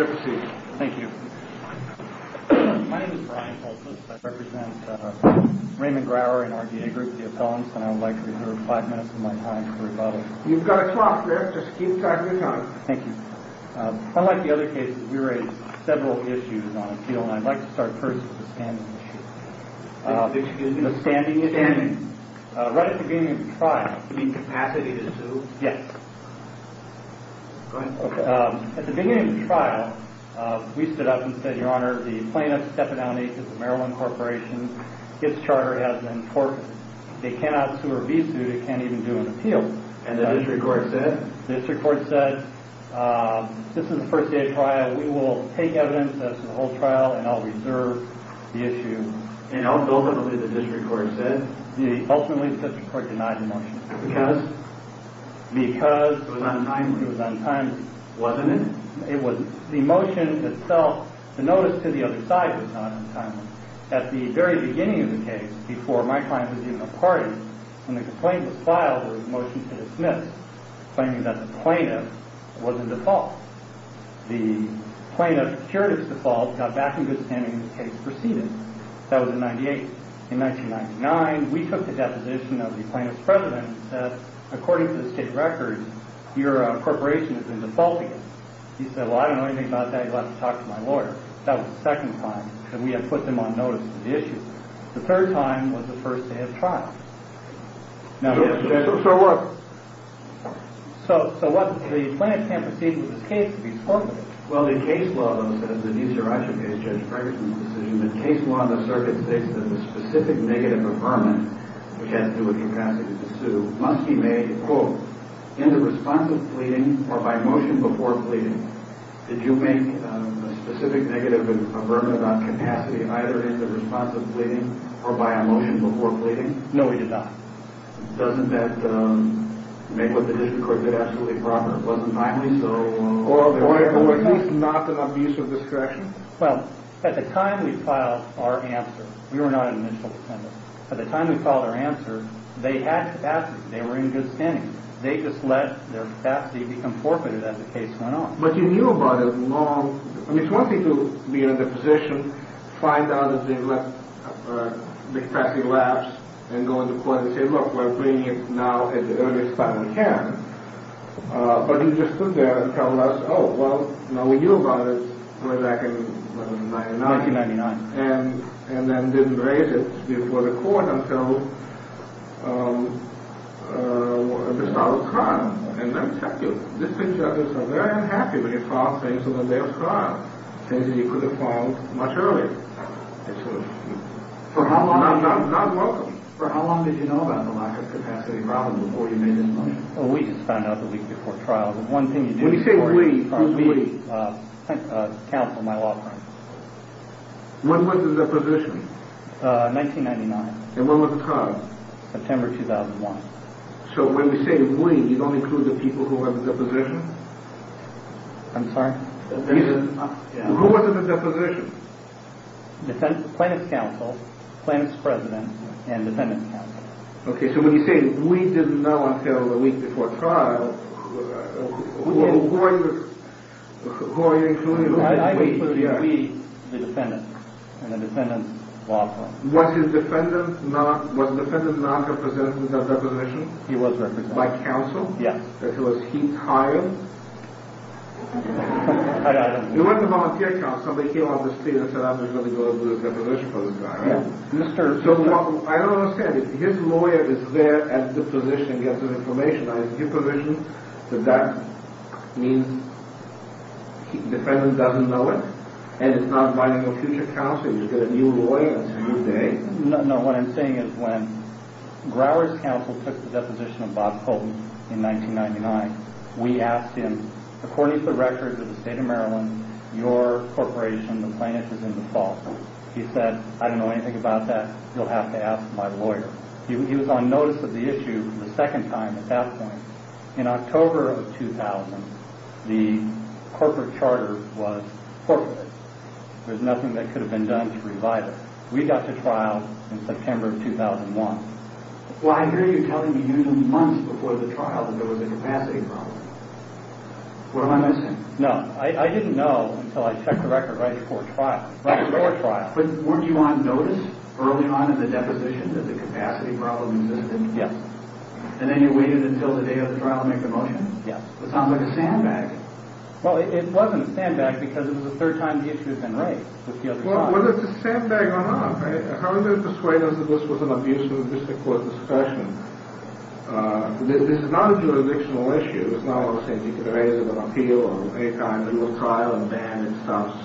My name is Brian Pulsos. I represent Raymond Grower in our DA group, the appellants, and I would like to reserve five minutes of my time for rebuttal. You've got a swap there. Just keep talking. Thank you. Unlike the other cases, we raised several issues on appeal, and I'd like to start first with the standing issue. Excuse me? The standing issue. Standing. Right at the beginning of the trial. You mean capacity to sue? Yes. Go ahead. Okay. At the beginning of the trial, we stood up and said, Your Honor, the plaintiff, Stephanie Downey, of the Maryland Corporation, his charter has been torphed. They cannot sue or be sued. It can't even do an appeal. And the district court said? The district court said, This is a first-day trial. We will take evidence. That's the whole trial, and I'll reserve the issue. And ultimately, the district court said? Ultimately, the district court denied the motion. Because? Because... It was untimely. It was untimely. It was untimely. It was untimely. It was untimely. It was untimely. It was untimely. It was untimely. It was untimely. It was untimely. At the very beginning of the case, before my client was even a party, when the complaint was filed, there was a motion to dismiss, claiming that the plaintiff was in default. The plaintiff secured his default, got back into his standing, and the case proceeded. That was in 98. In 1999, we took the deposition of the plaintiff's president and said, According to the state records, your corporation has been defaulting. He said, Well, I don't know anything about that. And we had a second time. And we had a second time. And we had a second time. that it was true because he said it was. The convenience conditions, they tried to put them on notice of the issue. The third time was the first they had tried. Now, yes, the Judge... So what? So the plaintiff can't proceed with this case, so he's forfeiting? Well, the case law, though, says, and these are actually based, Judge Ferguson's decision, but land law and the circuit statues that the specific negative affirmment, which has to do with capacity to sue, must be made, quote, in the response of pleading, or by motion before pleading. Did you make a specific negative avert about capacity to sue? No, we did not. Doesn't that make what the district court did absolutely improper? It wasn't timely, so... Or, at least not an abuse of discretion? Well, at the time we filed our answer, we were not an initial defendant. At the time we filed our answer, they had capacity. They were in good standing. They just let their capacity become forfeited as the case went on. But you knew about it long... I mean, it's one thing to be in the position, find out that they left capacity lapsed, and go into court and say, look, we're bringing it now as early as time we can. But he just stood there and told us, oh, well, now we knew about it way back in 1999. 1999. And then didn't raise it before the court until the start of crime. And let me tell you, district judges are very unhappy when you file things on the day of trial, things that you could have filed much earlier. It's sort of... For how long... Not welcome. For how long did you know about the lack of capacity in Robinwood before you made this motion? Well, we just found out the week before trial. The one thing you do... When you say we, who's we? Council, my law firm. When was the deposition? 1999. And when was the time? September 2001. So when you say we, you don't include the people who were in the deposition? I'm sorry? Who was in the deposition? Plaintiff's counsel, plaintiff's president, and defendant's counsel. Okay, so when you say we didn't know until the week before trial, who are you including? I included we, the defendant, and the defendant's law firm. Was the defendant not represented in the deposition? He was represented. By counsel? Yes. So was he hired? I don't know. He went to volunteer counsel. They came on the street and said, I'm just going to go and do a deposition for this guy. So I don't understand. If his lawyer is there at the position and gets the information on his deposition, then that means the defendant doesn't know it? And it's not binding on future counsel? No, what I'm saying is when Grower's counsel took the deposition of Bob Colton in 1999, we asked him, according to the records of the state of Maryland, your corporation, the plaintiff, is in the fall. He said, I don't know anything about that. You'll have to ask my lawyer. He was on notice of the issue the second time at that point. In October of 2000, the corporate charter was forfeited. There's nothing that could have been done to provide it. We got to trial in September of 2001. Well, I hear you telling me usually months before the trial that there was a capacity problem. What am I missing? No, I didn't know until I checked the record right before trial, right before trial. But weren't you on notice early on in the deposition that the capacity problem existed? Yes. And then you waited until the day of the trial to make the motion? Yes. That sounds like a sandbag. Well, it wasn't a sandbag because it was the third time the issue had been raised with the other side. Well, whether it's a sandbag or not, how do they persuade us that this was an abuse of the district court discretion? This is not a jurisdictional issue. It's not like saying you can raise it on appeal or any time there will be a trial and then it stops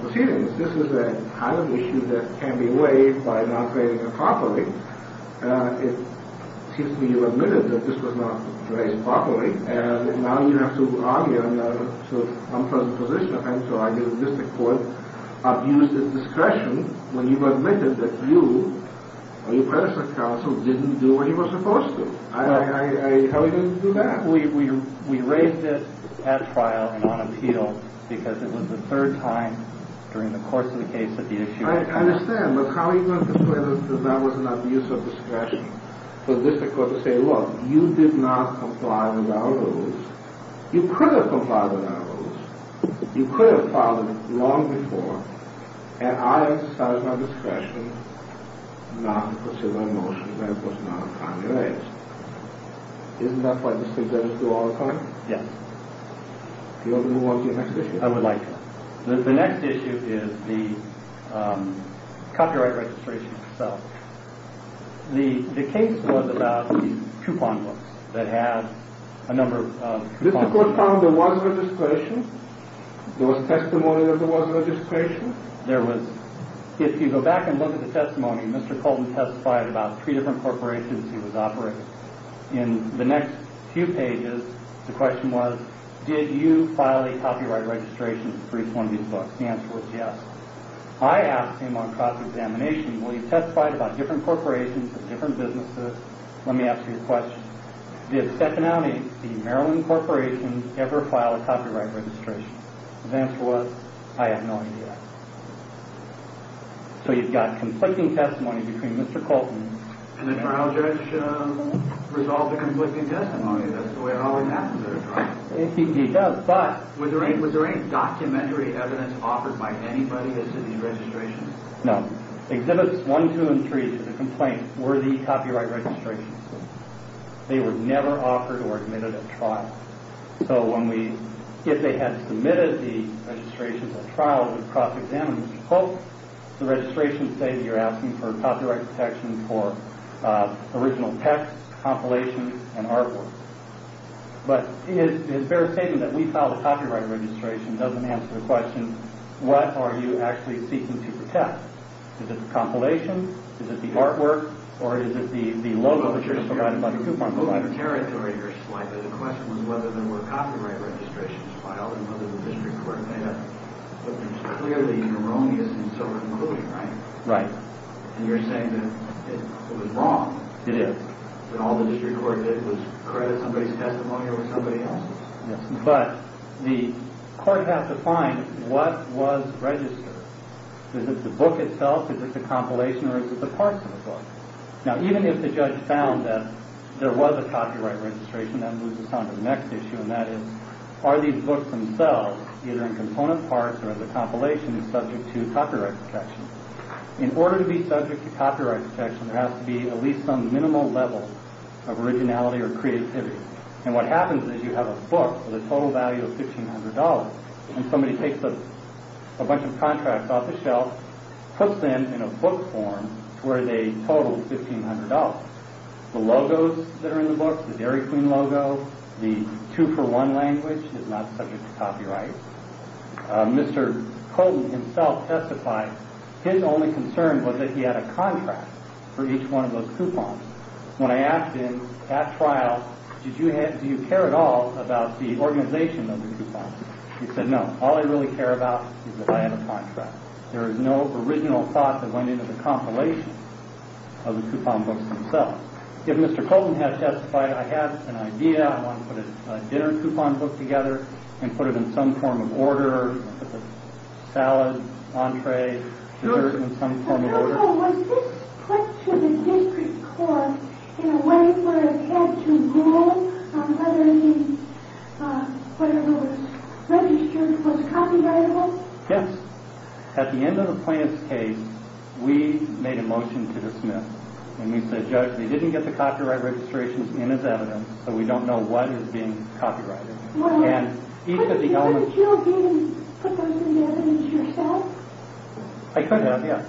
proceedings. This is a kind of issue that can be waived by not raising it properly. It seems to me you admitted that this was not raised properly. And now you have to argue to come from the position of having to argue that the district court abused its discretion when you admitted that you or your predecessor counsel didn't do what he was supposed to. How are you going to do that? We raised it at trial and on appeal because it was the third time during the course of the case that the issue was raised. I understand. But how are you going to persuade us that that was an abuse of discretion for the district court to say, look, you did not comply with our rules. You could have complied with our rules. You could have filed it long before. And I exercised my discretion not to pursue that motion when it was not on your age. Isn't that what the district judges do all the time? Yes. Do you want to move on to your next issue? I would like to. The next issue is the copyright registration itself. The case was about the coupon books that had a number of coupons. The district court found there was registration? There was testimony that there was registration? There was. If you go back and look at the testimony, Mr. Colton testified about three different corporations he was operating. In the next few pages, the question was, did you file a copyright registration for each one of these books? The answer was yes. I asked him on cross-examination, will you testify about different corporations and different businesses? Let me ask you a question. Did Stephanie, the Maryland corporation, ever file a copyright registration? His answer was, I have no idea. So you've got conflicting testimony between Mr. Colton. And the trial judge resolved the conflicting testimony. That's the way it always happens at a trial. He does. Was there any documentary evidence offered by anybody that said there was registration? No. Exhibits 1, 2, and 3 of the complaint were the copyright registrations. They were never offered or admitted at trial. So if they had submitted the registrations at trial, we'd cross-examine them. The registrations say that you're asking for copyright protection for original text, compilations, and artwork. But his fair statement that we filed a copyright registration doesn't answer the question, what are you actually seeking to protect? Is it the compilation? Is it the artwork? Or is it the logo that you're provided by the coupon provider? You're moving territory here slightly. The question was whether there were copyright registrations filed and whether the district court had them. But there's clearly erroneous and silver coating, right? Right. And you're saying that it was wrong. It is. That all the district court did was credit somebody's testimony over somebody else's. Yes. But the court has to find what was registered. Is it the book itself? Is it the compilation? Or is it the parts of the book? Now, even if the judge found that there was a copyright registration, that moves us on to the next issue, and that is, are these books themselves, either in component parts or as a compilation, is subject to copyright protection? In order to be subject to copyright protection, there has to be at least some minimal level of originality or creativity. And what happens is you have a book with a total value of $1,500, and somebody takes a bunch of contracts off the shelf, puts them in a book form to where they total $1,500. The logos that are in the book, the Dairy Queen logo, the two-for-one language is not subject to copyright. Mr. Colton himself testified. His only concern was that he had a contract for each one of those coupons. When I asked him at trial, do you care at all about the organization of the coupons, he said, no, all I really care about is that I have a contract. There is no original thought that went into the compilation of the coupon books themselves. If Mr. Colton has testified, I have an idea, I want to put a dinner coupon book together and put it in some form of order, put the salad, entree, dessert in some form of order. Was this put to the district court in a way where it had to rule on whether he was registered, was copyrightable? Yes. At the end of the plaintiff's case, we made a motion to the Smith, and we said, Judge, they didn't get the copyright registrations in his evidence, so we don't know what is being copyrighted. Couldn't you have given the person the evidence yourself? I could have, yes.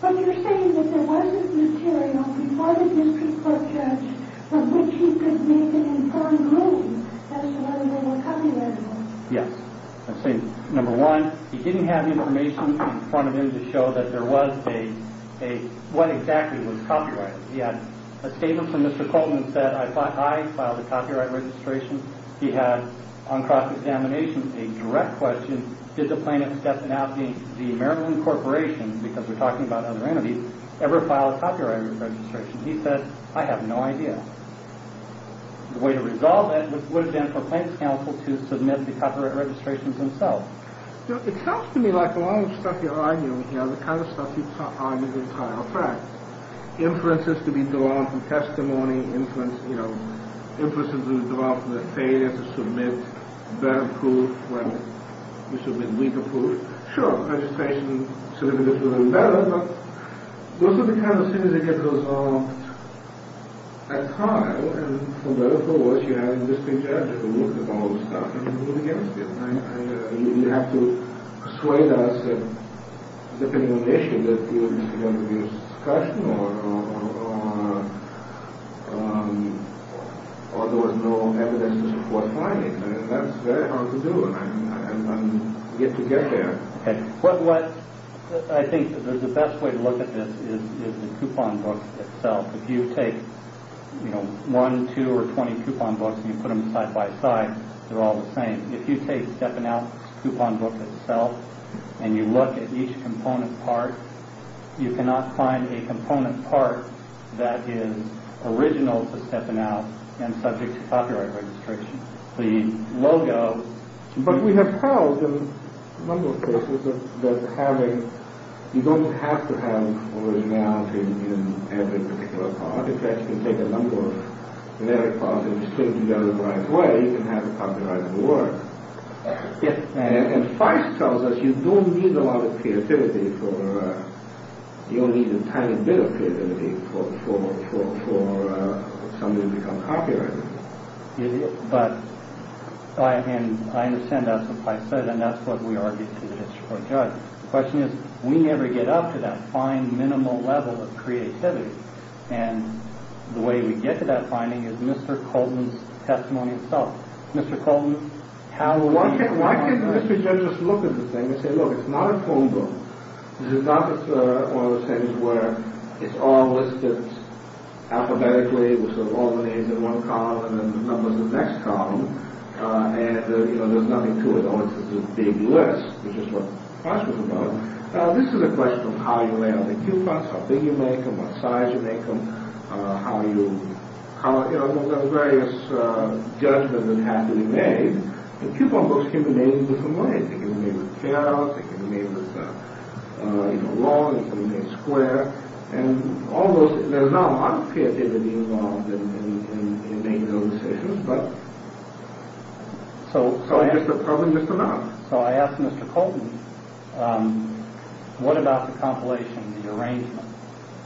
But you're saying that there wasn't material before the district court judge from which he could make an informed ruling as to whether they were copyrightable. Yes. Number one, he didn't have information in front of him to show that there was a, what exactly was copyrighted. He had a statement from Mr. Colton that said, I filed a copyright registration. He had, on cross-examination, a direct question, did the plaintiff, Stephanowski, the Maryland Corporation, because we're talking about other entities, ever file a copyright registration? He said, I have no idea. The way to resolve that would have been for Plaintiff's Counsel to submit the copyright registrations themselves. It sounds to me like a lot of the stuff you're arguing here, the kind of stuff you've argued in trial, in fact, inferences to be drawn from testimony, inferences to be drawn from the failure to submit better proof when you submit weaker proof. Sure, registration certificates would have been better, but those are the kind of things that get resolved at trial. And from there, of course, you have the district judge who looks at all the stuff and who begins it. You have to persuade us that, depending on the issue, there was no evidence to support filing. That's very hard to do, and I'm yet to get there. I think the best way to look at this is the coupon book itself. If you take one, two, or twenty coupon books and you put them side by side, they're all the same. If you take Stephanowski's coupon book itself and you look at each component part, you cannot find a component part that is original to Stephanowski and subject to copyright restriction. The logo... But we have held, in a number of cases, that you don't have to have originality in every particular part. If you actually take a number of generic parts and just put them together the right way, you can have a copyrighted word. And Feist tells us you don't need a lot of creativity for... You don't need a tiny bit of creativity for something to become copyrighted. But I understand that's what Feist said, and that's what we argue to the district court judge. The question is, we never get up to that fine, minimal level of creativity. And the way we get to that finding is Mr. Colton's testimony itself. Mr. Colton... Why can't the district judge just look at the thing and say, look, it's not a phone book. This is not one of those things where it's all listed alphabetically, with all the names in one column and the numbers in the next column, and there's nothing to it. Oh, it's just a big list, which is what Feist was about. This is a question of how you lay out the coupons, how big you make them, what size you make them, how you... There's various judgments that have to be made, and coupon books can be made in different ways. They can be made with carats, they can be made with long, they can be made square, and almost... There's not a lot of creativity involved in making those decisions, but it's just a problem, just a matter. what about the compilation, the arrangement?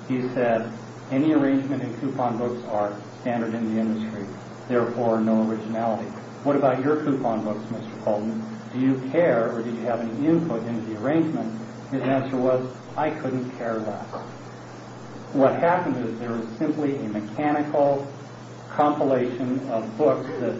He said, any arrangement in coupon books are standard in the industry, therefore no originality. What about your coupon books, Mr. Colton? Do you care, or do you have any input into the arrangement? His answer was, I couldn't care less. What happened is there was simply a mechanical compilation of books that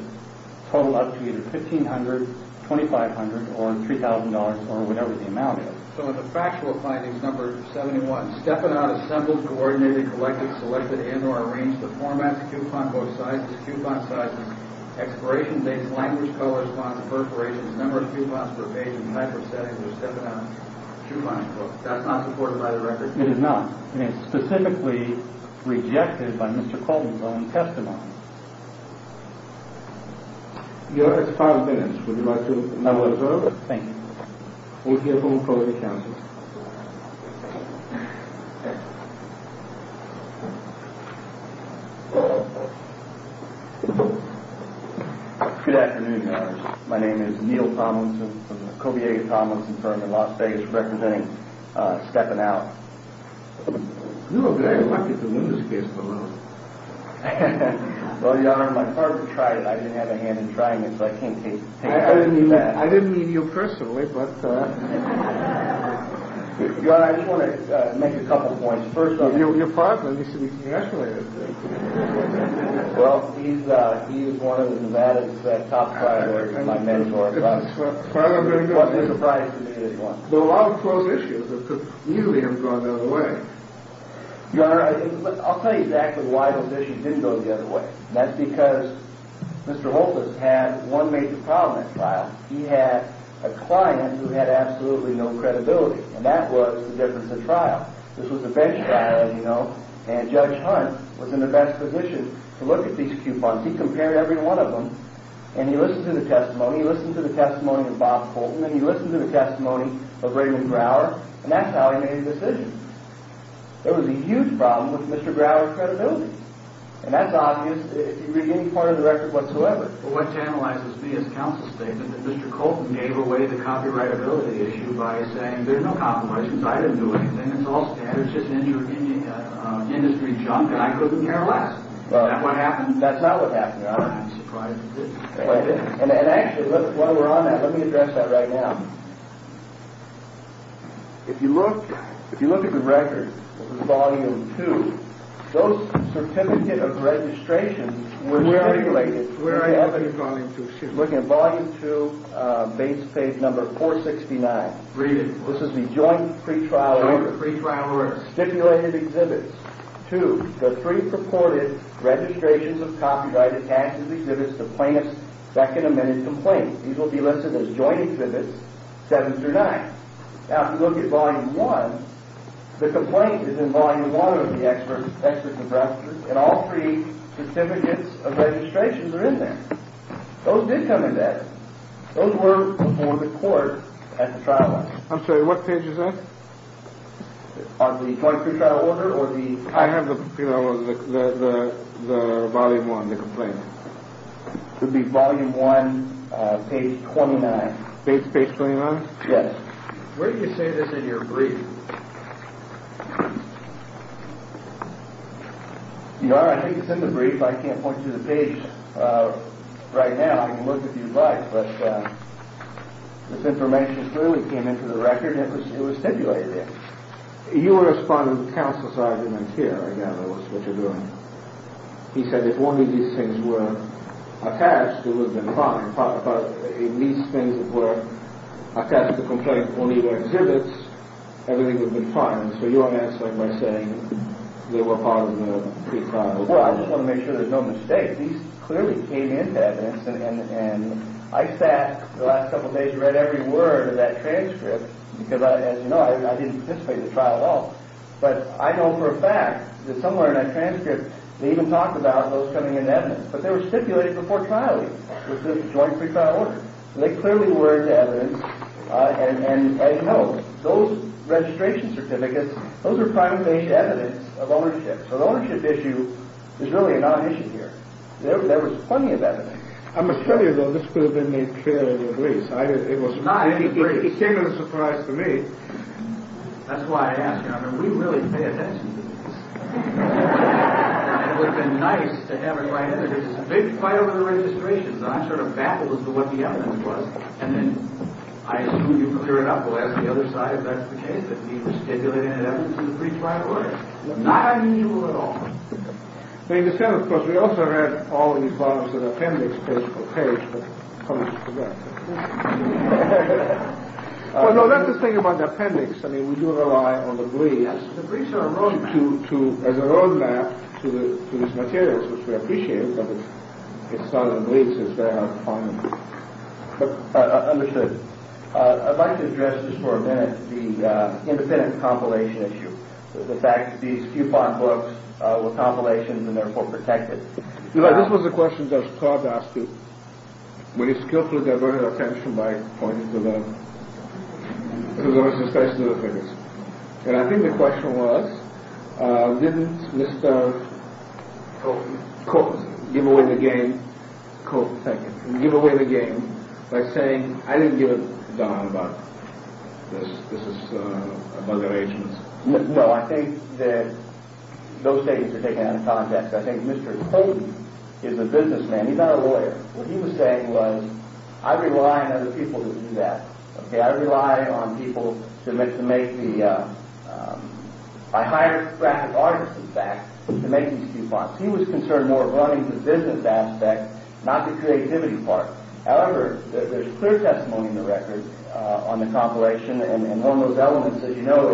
totaled up to either $1,500, $2,500, or $3,000, or whatever the amount is. So in the factual findings, number 71, Stepanat assembled, coordinated, collected, selected, and or arranged the formats, coupon book sizes, coupon sizes, expiration dates, language, colors, fonts, perforations, number of coupons per page, and micro-settings of Stepanat's coupon book. That's not supported by the record. It is not. And it's specifically rejected by Mr. Colton's own testimony. Your Honor, it's a file of evidence. Would you like to have a look at it? Thank you. We'll give him a call to the counsel. Good afternoon, Your Honor. My name is Neal Tomlinson from the Kobiega-Tomlinson firm in Las Vegas, representing Stepanat. You look very lucky to win this case, Your Honor. Well, Your Honor, my partner tried it. I didn't have a hand in trying it, so I can't take it. I didn't mean you personally. Your Honor, I just want to make a couple of points. First of all, your partner needs to be congratulated. Well, he's one of the Nevada's top trial lawyers, my mentor. It's a surprise to me, this one. There are a lot of close issues that could easily have gone the other way. Your Honor, I'll tell you exactly why those issues didn't go the other way. That's because Mr. Holtis had one major problem at trial. He had a client who had absolutely no credibility, and that was the difference of trial. This was a bench trial, as you know, and Judge Hunt was in the best position to look at these coupons. He compared every one of them, and he listened to the testimony. He listened to the testimony of Bob Fulton, and he listened to the testimony of Raymond Brower, and that's how he made a decision. There was a huge problem with Mr. Brower's credibility, and that's obvious in any part of the record whatsoever. Well, what tantalizes me is counsel's statement that Mr. Colton gave away the copyrightability issue by saying, there's no compromises. I didn't do anything. It's all standards. It's just industry junk, and I couldn't care less. That's not what happened. I'm surprised at this. And actually, while we're on that, let me address that right now. If you look at the record, Volume 2, those certificate of registrations were stipulated looking at Volume 2, base page number 469. This is the joint pretrial order. Stipulated exhibits. Two, the three purported registrations of copyrighted taxes exhibits the plaintiff's second amended complaint. These will be listed as joint exhibits, 7 through 9. Now, if you look at Volume 1, the complaint is in Volume 1 of the Expert Compressor, and all three certificates of registrations are in there. Those did come in there. Those were before the court at the trial. I'm sorry, what page is that? On the joint pretrial order, or the... I have the, you know, the Volume 1, the complaint. It would be Volume 1, page 29. Page 29? Yes. Where did you say this in your brief? You are, I think it's in the brief. I can't point to the page right now. I can look if you'd like, but this information clearly came into the record. It was stipulated there. You were responding to counsel's argument here, I gather, was what you're doing. He said if only these things were attached, it would have been fine. If only these things were attached to the complaint, only the exhibits, everything would have been fine. So you are answering by saying they were part of the pretrial order. Well, I just want to make sure there's no mistake. These clearly came into evidence, and I sat the last couple of days and read every word of that transcript, because, as you know, I didn't participate in the trial at all. But I know for a fact that somewhere in that transcript, they even talked about those coming into evidence. But they were stipulated before trial even, with this joint pretrial order. They clearly were into evidence, and you know, those registration certificates, those are primary evidence of ownership. So the ownership issue is really a non-issue here. There was plenty of evidence. I must tell you, though, this could have been made clearly in the briefs. It came as a surprise to me. That's why I asked you. I mean, we really pay attention to briefs. It would have been nice to have it right in the briefs. It's a big fight over the registrations, and I sort of baffled as to what the evidence was. And then I assume you're clear enough to ask the other side if that's the case, that he was stipulating an evidence in the briefs right away. Not I knew at all. They understand, of course. We also read all of these bottoms of the appendix page by page, but I almost forgot. Well, no, that's the thing about the appendix. I mean, we do rely on the briefs. The briefs are a roadmap. As a roadmap to these materials, which we appreciate, but it's a thousand blinks. It's very hard to find them. Understood. I'd like to address just for a minute the independent compilation issue, the fact that these coupon books were compilations and therefore protected. You know, this was a question that I was proud to ask you. We skillfully diverted attention by pointing to them, because it was especially the figures. And I think the question was, didn't Mr. Colton give away the game by saying, I didn't give a darn about this. This is a bugger agency. No, I think that those statements are taken out of context. I think Mr. Colton is a businessman. He's not a lawyer. What he was saying was, I rely on other people to do that. I rely on people to make the... I hire graphic artists, in fact, to make these coupons. He was concerned more of running the business aspect, not the creativity part. However, there's clear testimony in the record on the compilation, and one of those elements that you know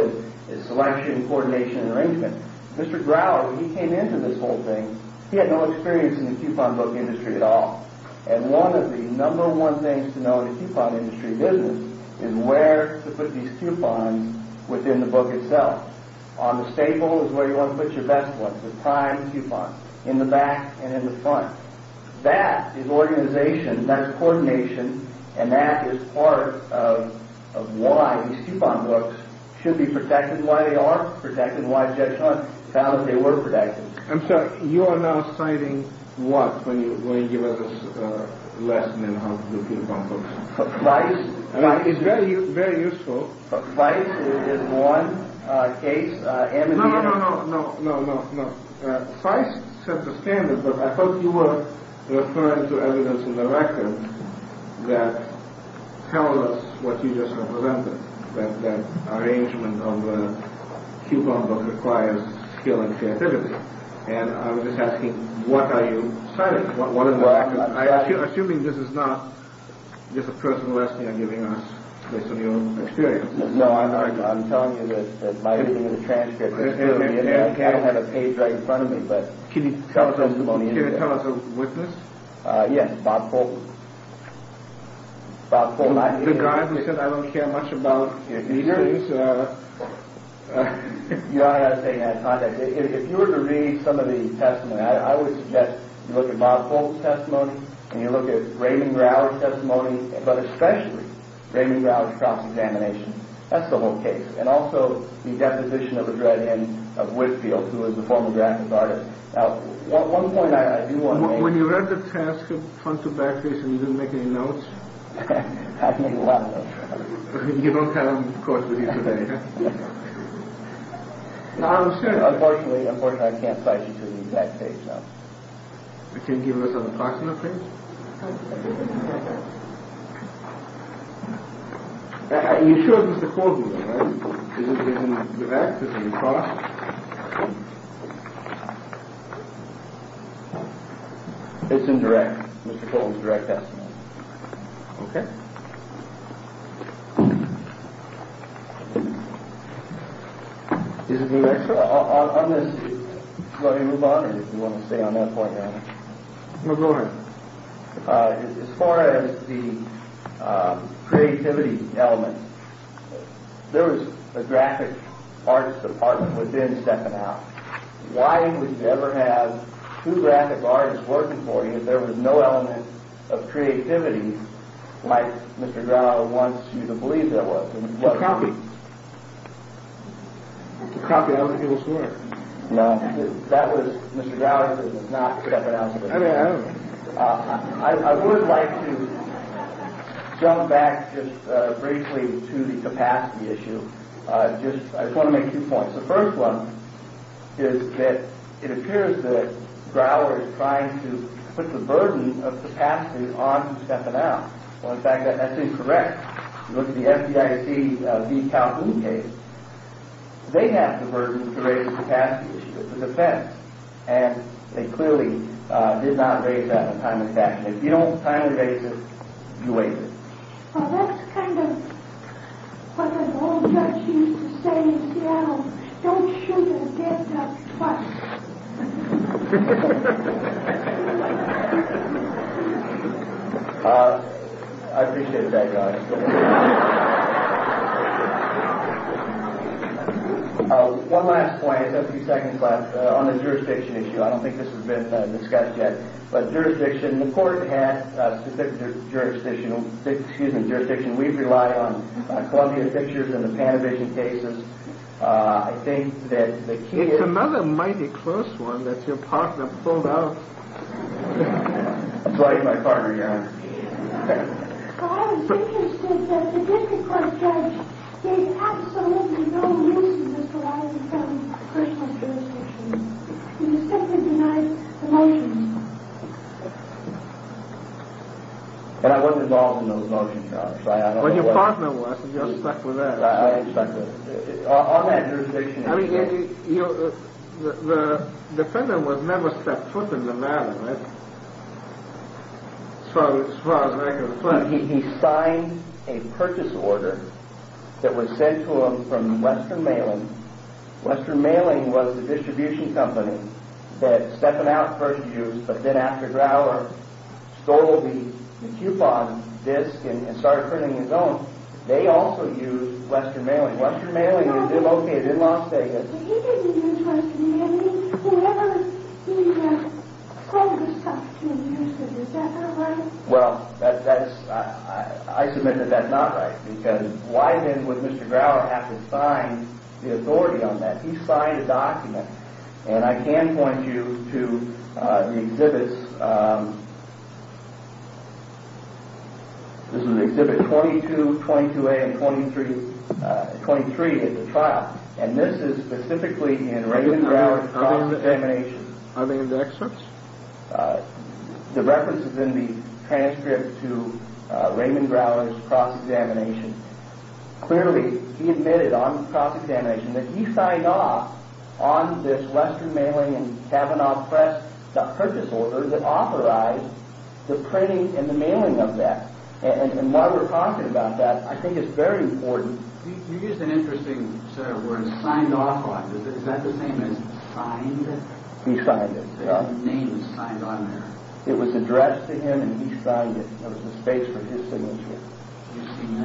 is selection, coordination, and arrangement. Mr. Grower, when he came into this whole thing, he had no experience in the coupon book industry at all. And one of the number one things to know in the coupon industry business is where to put these coupons within the book itself. On the stable is where you want to put your best ones, the prime coupons, in the back and in the front. That is organization, that's coordination, and that is part of why these coupon books should be protected, and why they are protected, and why Judge Hunt found that they were protected. I'm sorry, you are now citing what when you give us a lesson in how to do coupon books? Price. It's very useful. Price is one case. No, no, no, no, no. Price set the standard, but I thought you were referring to evidence in the record that tells us what you just represented, that the arrangement of a coupon book requires skill and creativity. And I was just asking, what are you citing? Assuming this is not just a person who asked me on giving us this new experience. No, I'm telling you this by reading the transcript. I don't have a page right in front of me, but... Can you tell us a witness? Yes, Bob Colton. Bob Colton. The guy who said I don't care much about meters? Your Honor, I was taking out of context. If you were to read some of the testimony, I would suggest you look at Bob Colton's testimony, and you look at Raymond Rourke's testimony, but especially Raymond Rourke's cross-examination. That's the whole case. And also the deposition of a dreaded end of Whitfield, who was a former graphic artist. Now, one point I do want to make... When you read the transcript front to back, you didn't make any notes? I didn't make a lot of notes. You don't have them, of course, with you today, huh? Unfortunately, I can't cite you to the exact page, no. Can you give us an approximate page? You showed us the codebook, right? Is it in the back? Is it across? It's in direct, Mr. Colton's direct testimony. Okay. Is it in there? On this, do you want me to move on, or do you want me to stay on that point, Your Honor? Move on. As far as the creativity element, there was a graphic artist department within Steppenhouse. Why would you ever have two graphic artists working for you if there was no element of creativity, like Mr. Grower wants you to believe there was? It's a copy. It's a copy of other people's work. No, that was Mr. Grower's, it was not Stephenhouse's. I mean, I don't know. I would like to jump back just briefly to the capacity issue. I just want to make two points. The first one is that it appears that Grower is trying to put the burden of capacity on Stephenhouse. Well, in fact, that's incorrect. If you look at the FDIC de-calculating case, they have the burden to raise the capacity issue. It's a defense. And they clearly did not raise that on time and fashion. If you don't timely raise it, you waive it. That's kind of what an old judge used to say in Seattle. Don't shoot a dead duck twice. I appreciated that, Josh. One last point, a few seconds left, on the jurisdiction issue. I don't think this has been discussed yet. But jurisdiction, the court has jurisdiction, excuse me, jurisdiction. We rely on Columbia Pictures and the Panavision cases. I think that the key is... It's another mighty close one that's your partner pulled out. It's like my partner, yeah. I was interested that the district court judge gave absolutely no reason to pull out the federal jurisdiction. The district court denied the motions. And I wasn't involved in those motions, Josh. Well, your partner was, and you're stuck with that. I am stuck with it. The defendant was never stepped foot in the matter, right? As far as I can reflect. He signed a purchase order that was sent to him from Western Mailing. Western Mailing was the distribution company that Stephanow first used, but then after Grower stole the coupon disk and started printing his own, they also used Western Mailing. Western Mailing is located in Las Vegas. He didn't use Western Mailing. Whenever he called this company, he said, is that not right? Well, I submit that that's not right. Because why then would Mr. Grower have to sign the authority on that? He signed a document. And I can point you to the exhibits. This is exhibit 22, 22A, and 23 at the trial. And this is specifically in Raymond Grower's cross-examination. Are they in the excerpts? The reference is in the transcript to Raymond Grower's cross-examination. Clearly, he admitted on cross-examination that he signed off on this Western Mailing and Kavanaugh Press purchase order that authorized the printing and the mailing of that. And while we're talking about that, I think it's very important. You used an interesting, sir, word, signed off on. Is that the same as signed? He signed it. The name is signed on there. It was addressed to him, and he signed it. There was a space for his signature. You've seen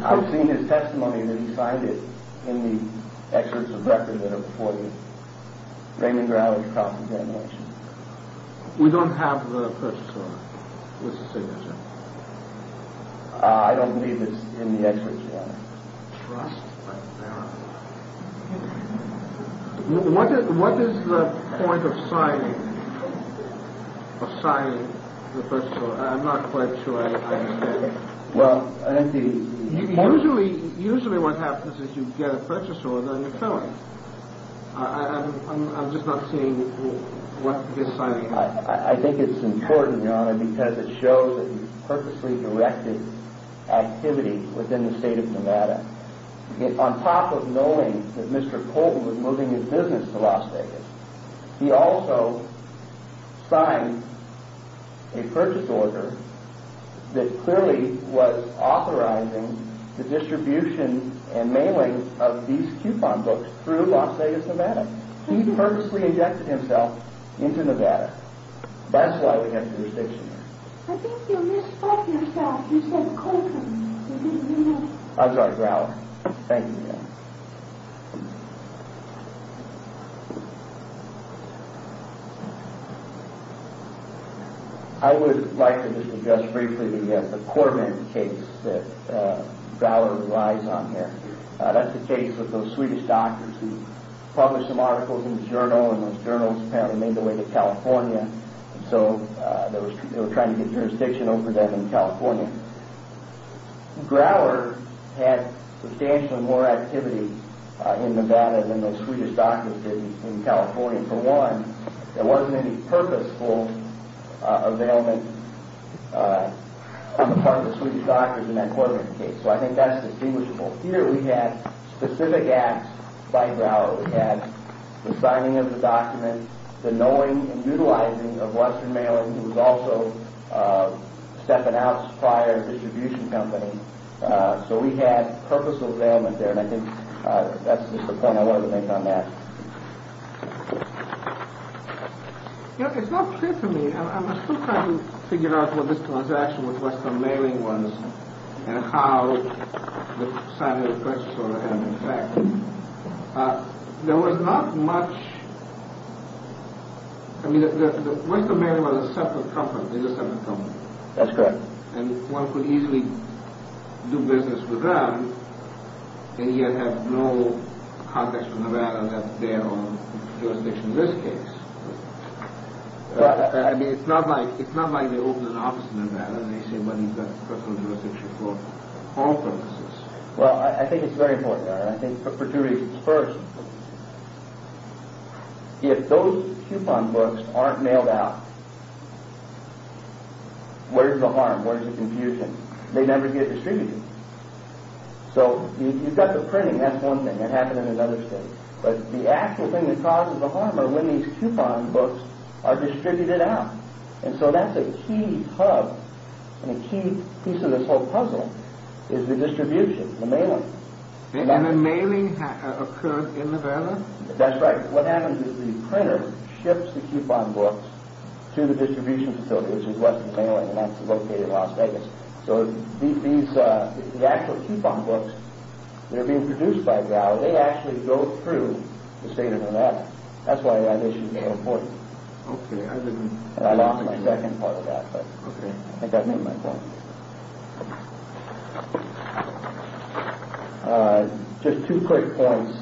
that? I've seen his testimony that he signed it in the excerpts of record that are before you. Raymond Grower's cross-examination. We don't have the purchase order with the signature. I don't believe it's in the excerpts, Your Honor. Trust, but verify. What is the point of signing the purchase order? I'm not quite sure I understand. Usually what happens is you get a purchase order, and then you fill it. I'm just not seeing what this signing is. I think it's important, Your Honor, because it shows that he purposely directed activity within the state of Nevada. On top of knowing that Mr. Colton was moving his business to Las Vegas, he also signed a purchase order that clearly was authorizing the distribution and mailing of these coupon books through Las Vegas, Nevada. He purposely ejected himself into Nevada. That's why we have jurisdiction here. I think you misspoke yourself. You said Colton. I'm sorry, Grower. Thank you, Your Honor. I would like to just address briefly the Corbin case that Grower relies on here. That's the case of those Swedish doctors who published some articles in the journal, and those journals apparently made their way to California. So they were trying to get jurisdiction over them in California. Grower had substantially more activity in Nevada than the Swedish doctors did in California. For one, there wasn't any purposeful availment on the part of the Swedish doctors in that Corbin case. So I think that's distinguishable. Here we had specific acts by Grower. We had the signing of the document, the knowing and utilizing of Western Mailing, who was also stepping out as a prior distribution company. So we had purposeful availment there, and I think that's just the point I wanted to make on that. You know, it's not clear to me. I'm still trying to figure out what this transaction with Western Mailing was, and how the signing of the purchase order had an effect. There was not much... I mean, Western Mailing was a separate company. That's correct. And one could easily do business with them, and yet have no contacts from Nevada left there on jurisdiction in this case. I mean, it's not like they opened an office in Nevada and they say, well, you've got personal jurisdiction for all purposes. Well, I think it's very important. I think for two reasons. First, if those coupon books aren't mailed out, where's the harm, where's the confusion? They never get distributed. So you've got the printing, that's one thing. It happened in another state. But the actual thing that causes the harm are when these coupon books are distributed out. And so that's a key hub, and a key piece of this whole puzzle, is the distribution, the mailing. And the mailing occurred in Nevada? That's right. What happens is the printer ships the coupon books to the distribution facility, which is Western Mailing, and that's located in Las Vegas. So the actual coupon books that are being produced by VAL, they actually go through the state of Nevada. That's why that issue is so important. Okay, I didn't... I lost my second part of that, but I think that made my point. Just two quick points.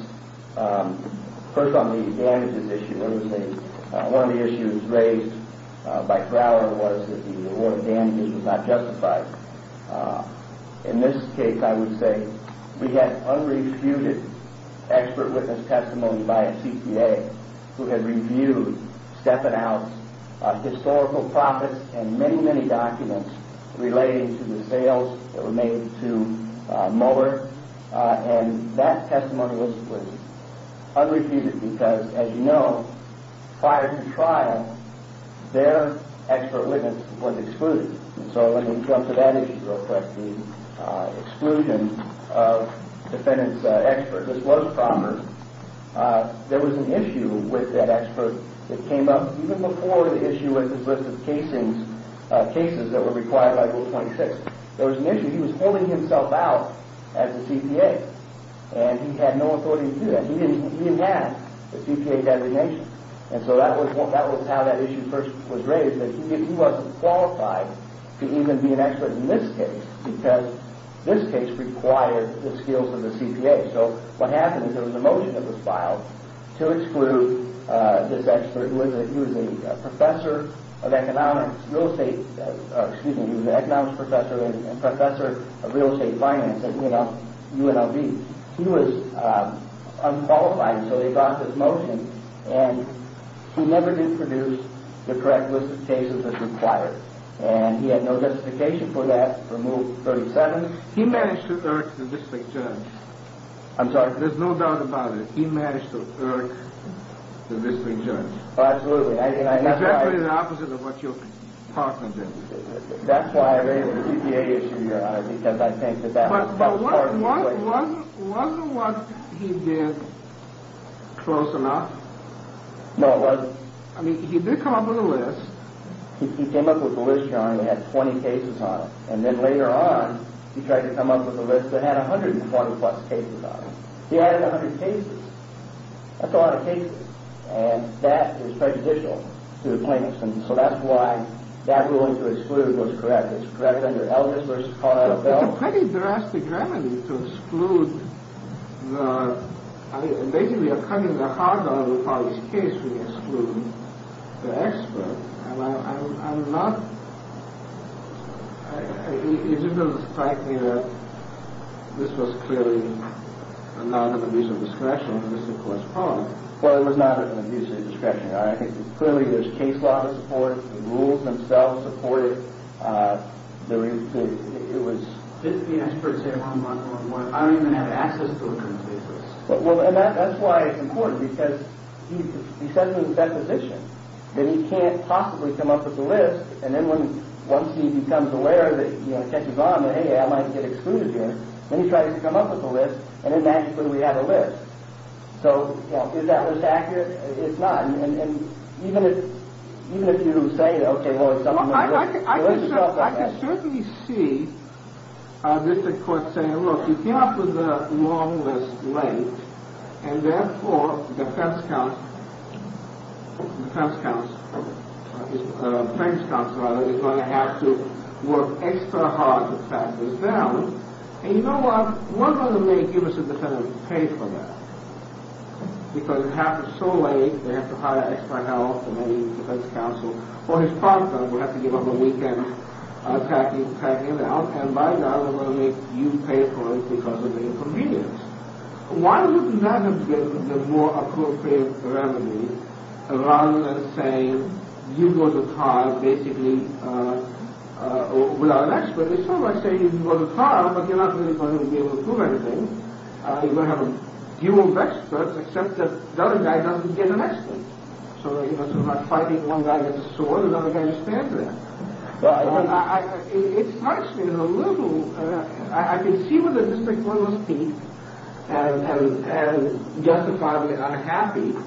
First on the damages issue, one of the issues raised by Crowder was that the award of damages was not justified. In this case, I would say, we had unrefuted expert witness testimony by a CPA who had reviewed Step It Out's historical profits and many, many documents relating to the sales that were made to Mueller, and that testimony was unrefuted because, as you know, prior to trial, their expert witness was excluded. And so let me jump to that issue real quick, the exclusion of defendant's expert. This was a problem. There was an issue with that expert that came up, even before the issue with his list of casings, cases that were required by Rule 26. There was an issue. He was holding himself out as a CPA, and he had no authority to do that. He didn't have the CPA designation. And so that was how that issue first was raised, that he wasn't qualified to even be an expert in this case because this case required the skills of the CPA. So what happened is there was a motion that was filed to exclude this expert. He was a professor of economics, real estate... a professor of real estate finance at UNLV. He was unqualified, so they got this motion, and he never did produce the correct list of cases as required. And he had no justification for that, for Rule 37. He managed to irk the district judge. I'm sorry? There's no doubt about it. He managed to irk the district judge. Absolutely. Exactly the opposite of what your partner did. That's why I raised the CPA issue, Your Honor, because I think that that was part of the reason. But wasn't what he did close enough? No, it wasn't. I mean, he did come up with a list. He came up with a list, Your Honor, and he had 20 cases on it. And then later on, he tried to come up with a list that had 101-plus cases on it. He added 100 cases. That's a lot of cases. And that is prejudicial to the plaintiffs. And so that's why that ruling to exclude was correct. It's correct under Eldridge v. Pauletta-Bell. It's a pretty drastic remedy to exclude. I mean, basically, we are cutting the heart out of the parties' case. We exclude the expert. And I'm not – it doesn't strike me that this was clearly a non-amusement discretion. This is a correspondence. Well, it was not an amusement discretion, Your Honor. Clearly, there's case law to support it. The rules themselves support it. Didn't the expert say, well, I don't even have access to a complete list? Well, and that's why it's important, because he said from his deposition that he can't possibly come up with a list, and then once he becomes aware that it catches on, that, hey, I might get excluded here, then he tries to come up with a list, and then naturally we have a list. So, you know, is that list accurate? It's not. And even if you do say, okay, well, it's not – Well, I can certainly see Mr. Court saying, look, you came up with a long list late, and therefore defense counsel – defense counsel – defense counsel, rather, is going to have to work extra hard to track this down. And you know what? We're going to make you as a defendant pay for that, because it happens so late, they have to hire extra help from any defense counsel, or his partner will have to give up a weekend tracking it out, and by now they're going to make you pay for it because of the inconvenience. Why would you not have given the more appropriate remedy, rather than saying you go to trial, basically, without an expert? They sort of might say you go to trial, but you're not really going to be able to prove anything. You're going to have a few old experts, except that the other guy doesn't get an expert. So you're not fighting one guy with a sword, and the other guy just stands there. It strikes me as a little – I can see where the district court must be, and justify the unhappiness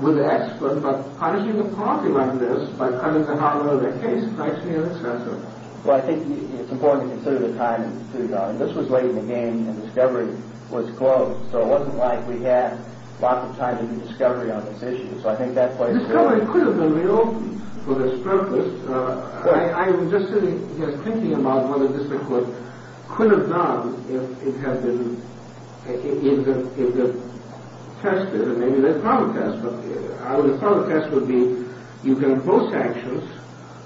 with the expert, but punishing the property like this, by cutting them out of their case, strikes me as excessive. Well, I think it's important to consider the time, and this was late in the game, and the discovery was close. So it wasn't like we had lots of time to do discovery on this issue. So I think that place – The discovery could have been reopened for this purpose. I'm just sitting here thinking about what the district court could have done, if it had been tested, and maybe there's probably tests, but I would have thought the test would be, you've got both sanctions,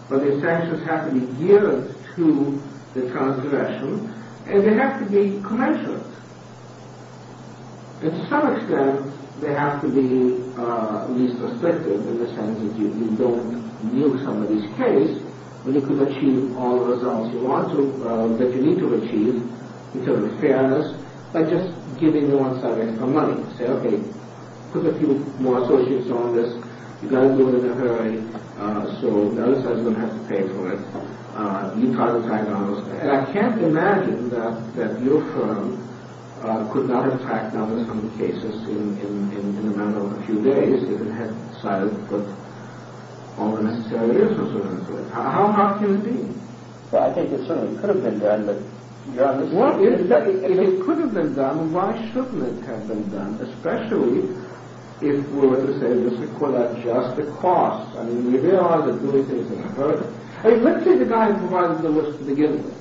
but the sanctions have to be geared to the transgression, and they have to be commensurate. And to some extent, they have to be least restrictive, in the sense that you don't nuke somebody's case, but you could achieve all the results you want to, that you need to achieve, in terms of fairness, by just giving them some extra money. Say, okay, put a few more associates on this, you've got to do it in a hurry, so the other side's going to have to pay for it, you try to tie it down, and I can't imagine that your firm could not have tied down some of the cases in a matter of a few days, if it hadn't decided to put all the necessary resources into it. How hard can it be? Well, I think it certainly could have been done, but... If it could have been done, why shouldn't it have been done? Especially if we were to say, this could have just cost, I mean, we realize that doing things in a hurry... Let's say the guy who provides the list to begin with,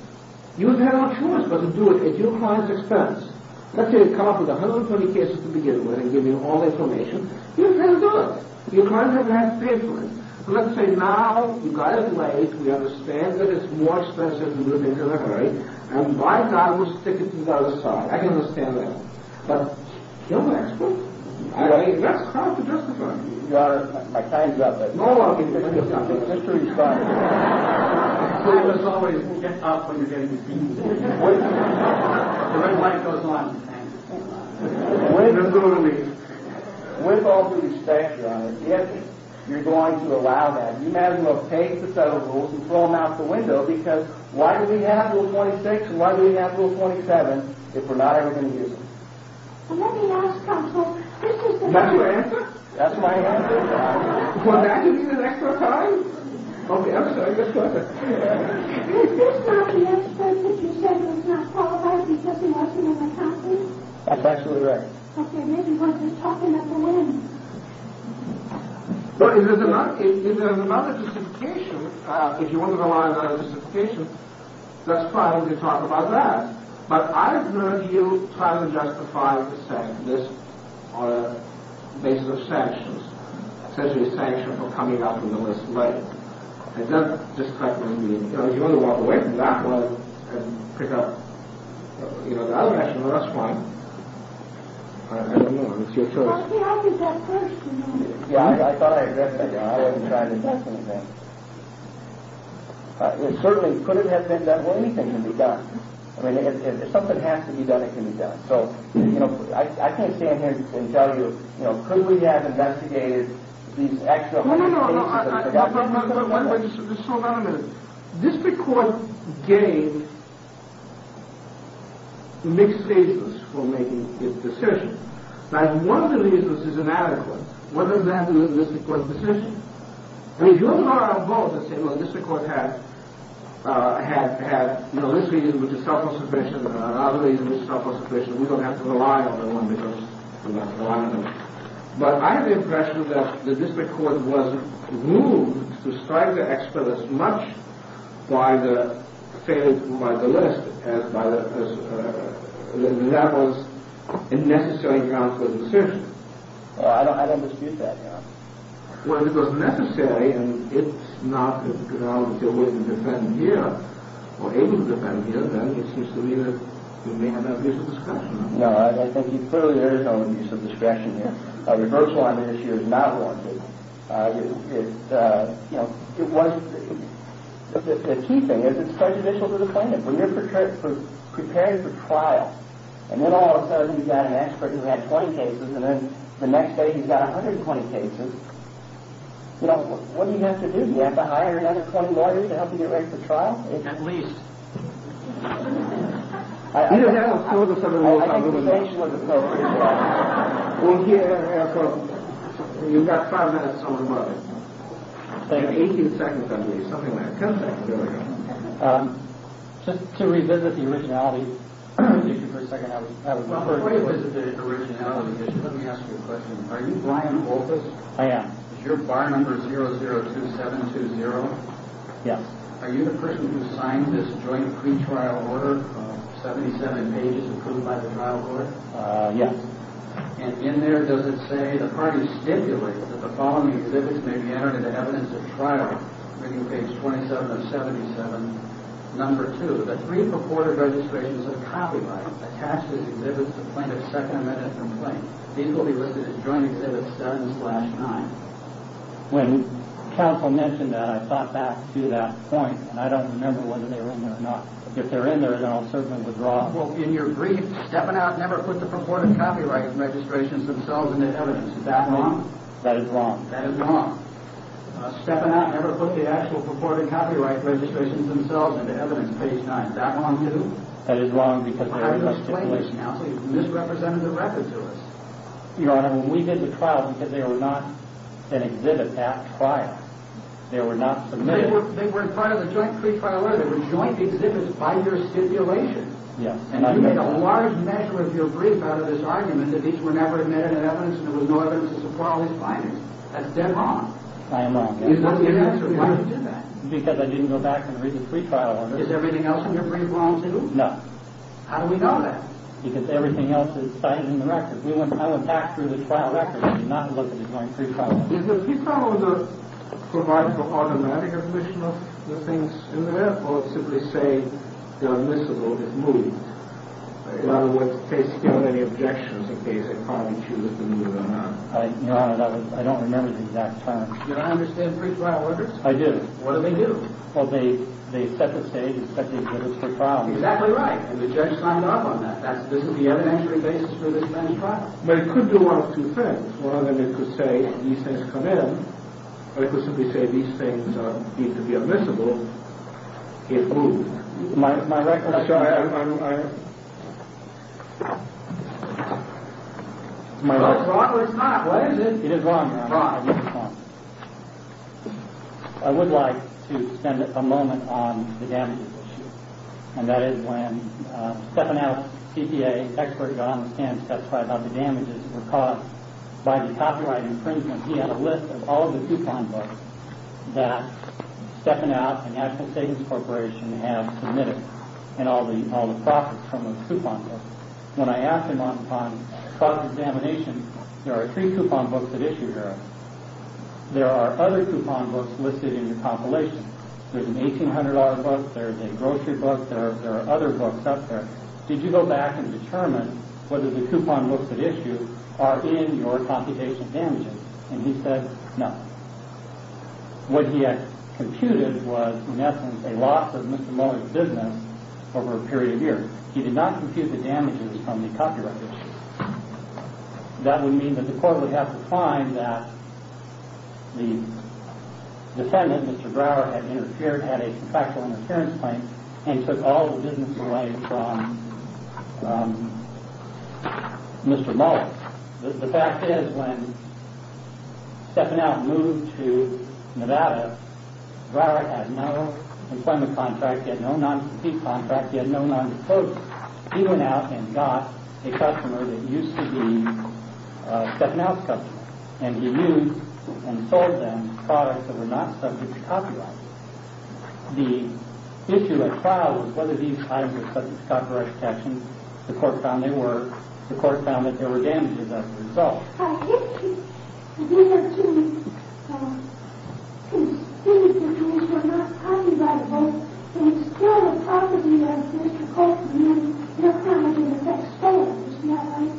he would have had no choice, but to do it at your client's expense. Let's say he'd come up with 120 cases to begin with, and give you all the information, he would have had to do it. Your client would have had to pay for it. So let's say now, you've got it in my age, we understand that it's more expensive than doing it in a hurry, and my guy will stick it to the other side, I can understand that. But, he'll ask for it. I mean, that's hard to justify. Your Honor, my time's up. No, no, no, your time's up. The history's fine. So you just always get up when you're getting beat. The red light goes on. Let's go to the meeting. With all due respect, Your Honor, if you're going to allow that, you might as well take the federal rules and throw them out the window, because why do we have Rule 26, and why do we have Rule 27, if we're not ever going to use them? Let me ask counsel, That's your answer? That's my answer? Well, now you need an extra time? Okay, I'm sorry, yes, go ahead. Is this not the expert that you said was not qualified because he wasn't in the country? That's absolutely right. Okay, maybe we're just talking at the whim. Well, if there's another justification, if you want to rely on another justification, that's fine, we can talk about that. But I've heard you trying to justify this on the basis of sanctions, essentially a sanction for coming up in the list. Right. Is that just like what you mean? If you want to walk away from that one and pick up, you know, that action, well, that's fine. I don't know, it's your choice. How did that person know? I thought I addressed that. I wasn't trying to do anything. It certainly couldn't have been that way. Anything can be done. I mean, if something has to be done, it can be done. So, you know, I can't stand here and tell you, you know, couldn't we have investigated these actual cases? No, no, no, wait a minute. Just hold on a minute. District Court gave mixed cases for making its decision. Now, if one of the reasons is inadequate, what does that do to the District Court's decision? I mean, you and I are both the same. Well, the District Court had, you know, this reason which is self-assertion, and another reason which is self-assertion. We don't have to rely on that one because we don't have to rely on them. But I have the impression that the District Court was moved to strike the expert as much by the failure to provide the list as by that person. That was a necessary ground for the decision. I don't dispute that, Your Honor. Well, it was necessary, and it's not a ground to defend here or able to defend here, then it seems to me that we may have an abuse of discretion. No, I think clearly there is an abuse of discretion here. A reversal on the issue is not warranted. The key thing is it's prejudicial to the plaintiff. When you're preparing for trial, and then all of a sudden you've got an expert who had 20 cases, and then the next day he's got 120 cases, what do you have to do? Do you have to hire another 20 lawyers to help you get ready for trial? At least. I think the sanction was appropriate. You've got five minutes on the market. You have 18 seconds at least, something like that. Just to revisit the originality of the issue for a second. Before you revisit the originality of the issue, let me ask you a question. Are you Brian Balthus? I am. Is your bar number 002720? Yes. Are you the person who signed this joint pretrial order of 77 pages approved by the trial court? Yes. And in there does it say, the party stipulates that the following exhibits may be entered into evidence at trial, reading page 27 of 77, number 2. The three purported registrations of copyrights attached to the exhibits to plaintiff's second amendment complaint. These will be listed as joint exhibits 7-9. When counsel mentioned that, I thought back to that point, and I don't remember whether they were in there or not. If they're in there, then I'll certainly withdraw. Well, in your brief, Stepanak never put the purported copyright registrations themselves into evidence. Is that wrong? That is wrong. That is wrong. Stepanak never put the actual purported copyright registrations themselves into evidence, page 9. Is that wrong too? That is wrong because there is a stipulation. So you misrepresented the record to us. Your Honor, we did the trial because they were not an exhibit at trial. They were not submitted. They weren't part of the joint pre-trial order. They were joint exhibits by your stipulation. Yes. And you made a large measure of your brief out of this argument that these were never admitted in evidence and there was no evidence to support all these findings. That's dead wrong. I am wrong. Is that the answer? Why did you do that? Because I didn't go back and read the pre-trial order. Is everything else in your brief wrong too? No. How do we know that? Because everything else is signed in the record. I went back through the trial record. I did not look at the joint pre-trial order. Is the pre-trial order to provide for automatic admission of the things in there or simply say they're admissible, they've moved? In other words, they still have any objections in case they finally choose to move or not. Your Honor, I don't remember the exact terms. You don't understand pre-trial orders? I do. What do they do? Well, they set the stage and set the exhibits for trial. Exactly right. And the judge signed up on that. That's the evidentiary basis for this bench trial. But it could do one of two things. One of them, it could say these things come in. Or it could simply say these things need to be admissible. It moved. My record shows that. It's not. What is it? It is wrong, Your Honor. It's wrong. I would like to spend a moment on the damages issue. And that is when Stephanow's TPA expert got on the stand and testified about the damages that were caused by the copyright infringement. He had a list of all of the coupon books that Stephanow and National Savings Corporation have submitted and all the profits from those coupon books. When I asked him on cross-examination, there are three coupon books that issue here. There are other coupon books listed in the compilation. There's an $1,800 book. There's a grocery book. There are other books up there. Did you go back and determine whether the coupon books that issue are in your compilation damages? And he said, no. What he had computed was, in essence, a loss of Mr. Lohr's business over a period of years. He did not compute the damages from the copyright issue. That would mean that the court would have to find that the defendant, Mr. Brower, had interfered at a contractual interference point and took all the business away from Mr. Mohler. The fact is, when Stephanow moved to Nevada, Brower had no employment contract. He had no non-compete contract. He had no non-disclosure. He went out and got a customer that used to be Stephanow's customer. And he used and sold them products that were not subject to copyright. The issue at trial was whether these items were subject to copyright protection. The court found they were. The court found that there were damages as a result. I get you. But these are two, um, two specific cases where it's not copyrighted, right? And it's still the property of Mr. Colton. And then, you know, how much of it gets stolen. Isn't that right?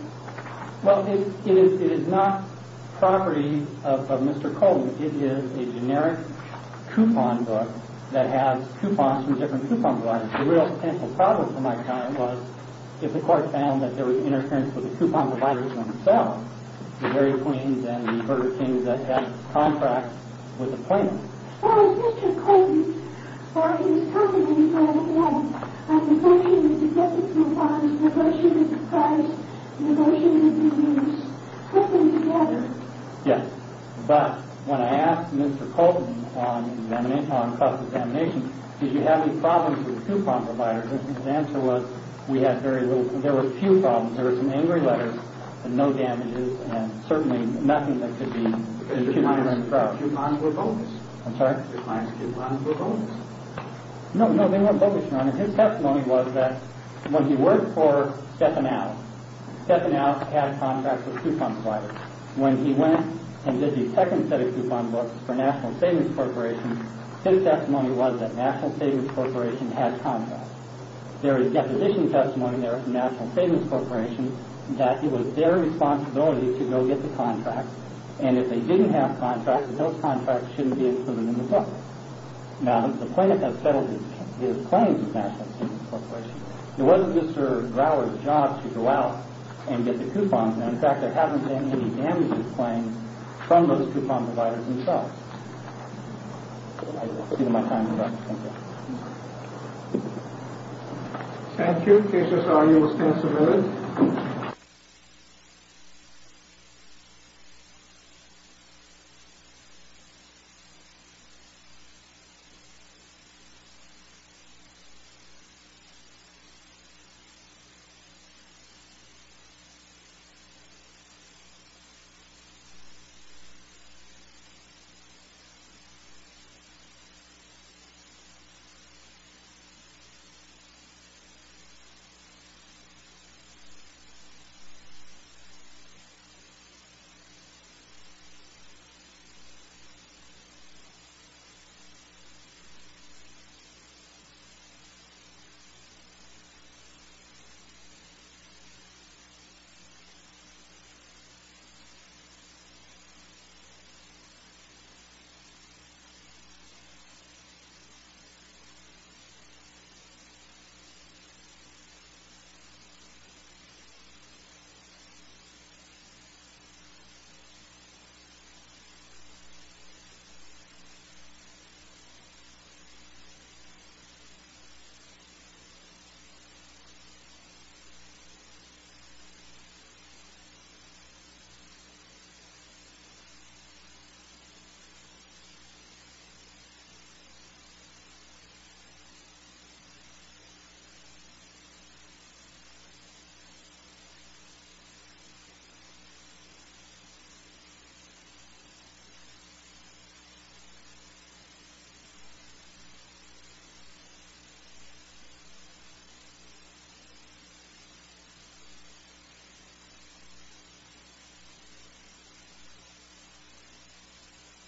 Well, it is not property of Mr. Colton. It is a generic coupon book that has coupons from different coupon providers. The real potential problem for my client was, if the court found that there was interference with the coupon providers themselves, the Mary Queens and the Burger Kings that had contracts with the plaintiffs. Well, if Mr. Colton, or his company, had had a negotiation with the deputy coupon providers, a negotiation with the proprietors, a negotiation with the unions, what would you have done? Yes. But when I asked Mr. Colton on the examination, on the cost of the examination, did you have any problems with the coupon providers? His answer was, we had very little. There were a few problems. There were some angry letters, and no damages, and certainly nothing that could be too hungry and proud. Because your clients' coupons were bogus. I'm sorry? Your clients' coupons were bogus. No, no, they weren't bogus, Your Honor. His testimony was that when he worked for Stefanow, Stefanow had contracts with coupon providers. When he went and did the second set of coupon books for National Savings Corporation, his testimony was that National Savings Corporation had contracts. There is deposition testimony there from National Savings Corporation that it was their responsibility to go get the contracts, and if they didn't have contracts, those contracts shouldn't be included in the book. Now, the plaintiff has settled his claims with National Savings Corporation. It wasn't Mr. Grauer's job to go out and get the coupons. In fact, there haven't been any damages claimed from those coupon providers themselves. I give you my time, Your Honor. Thank you. Thank you. Cases are used and submitted. I give you my time, Your Honor. Thank you. I give you my time, Your Honor. Thank you. I give you my time, Your Honor. Thank you. I give you my time, Your Honor. Thank you. The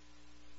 Court is adjourned.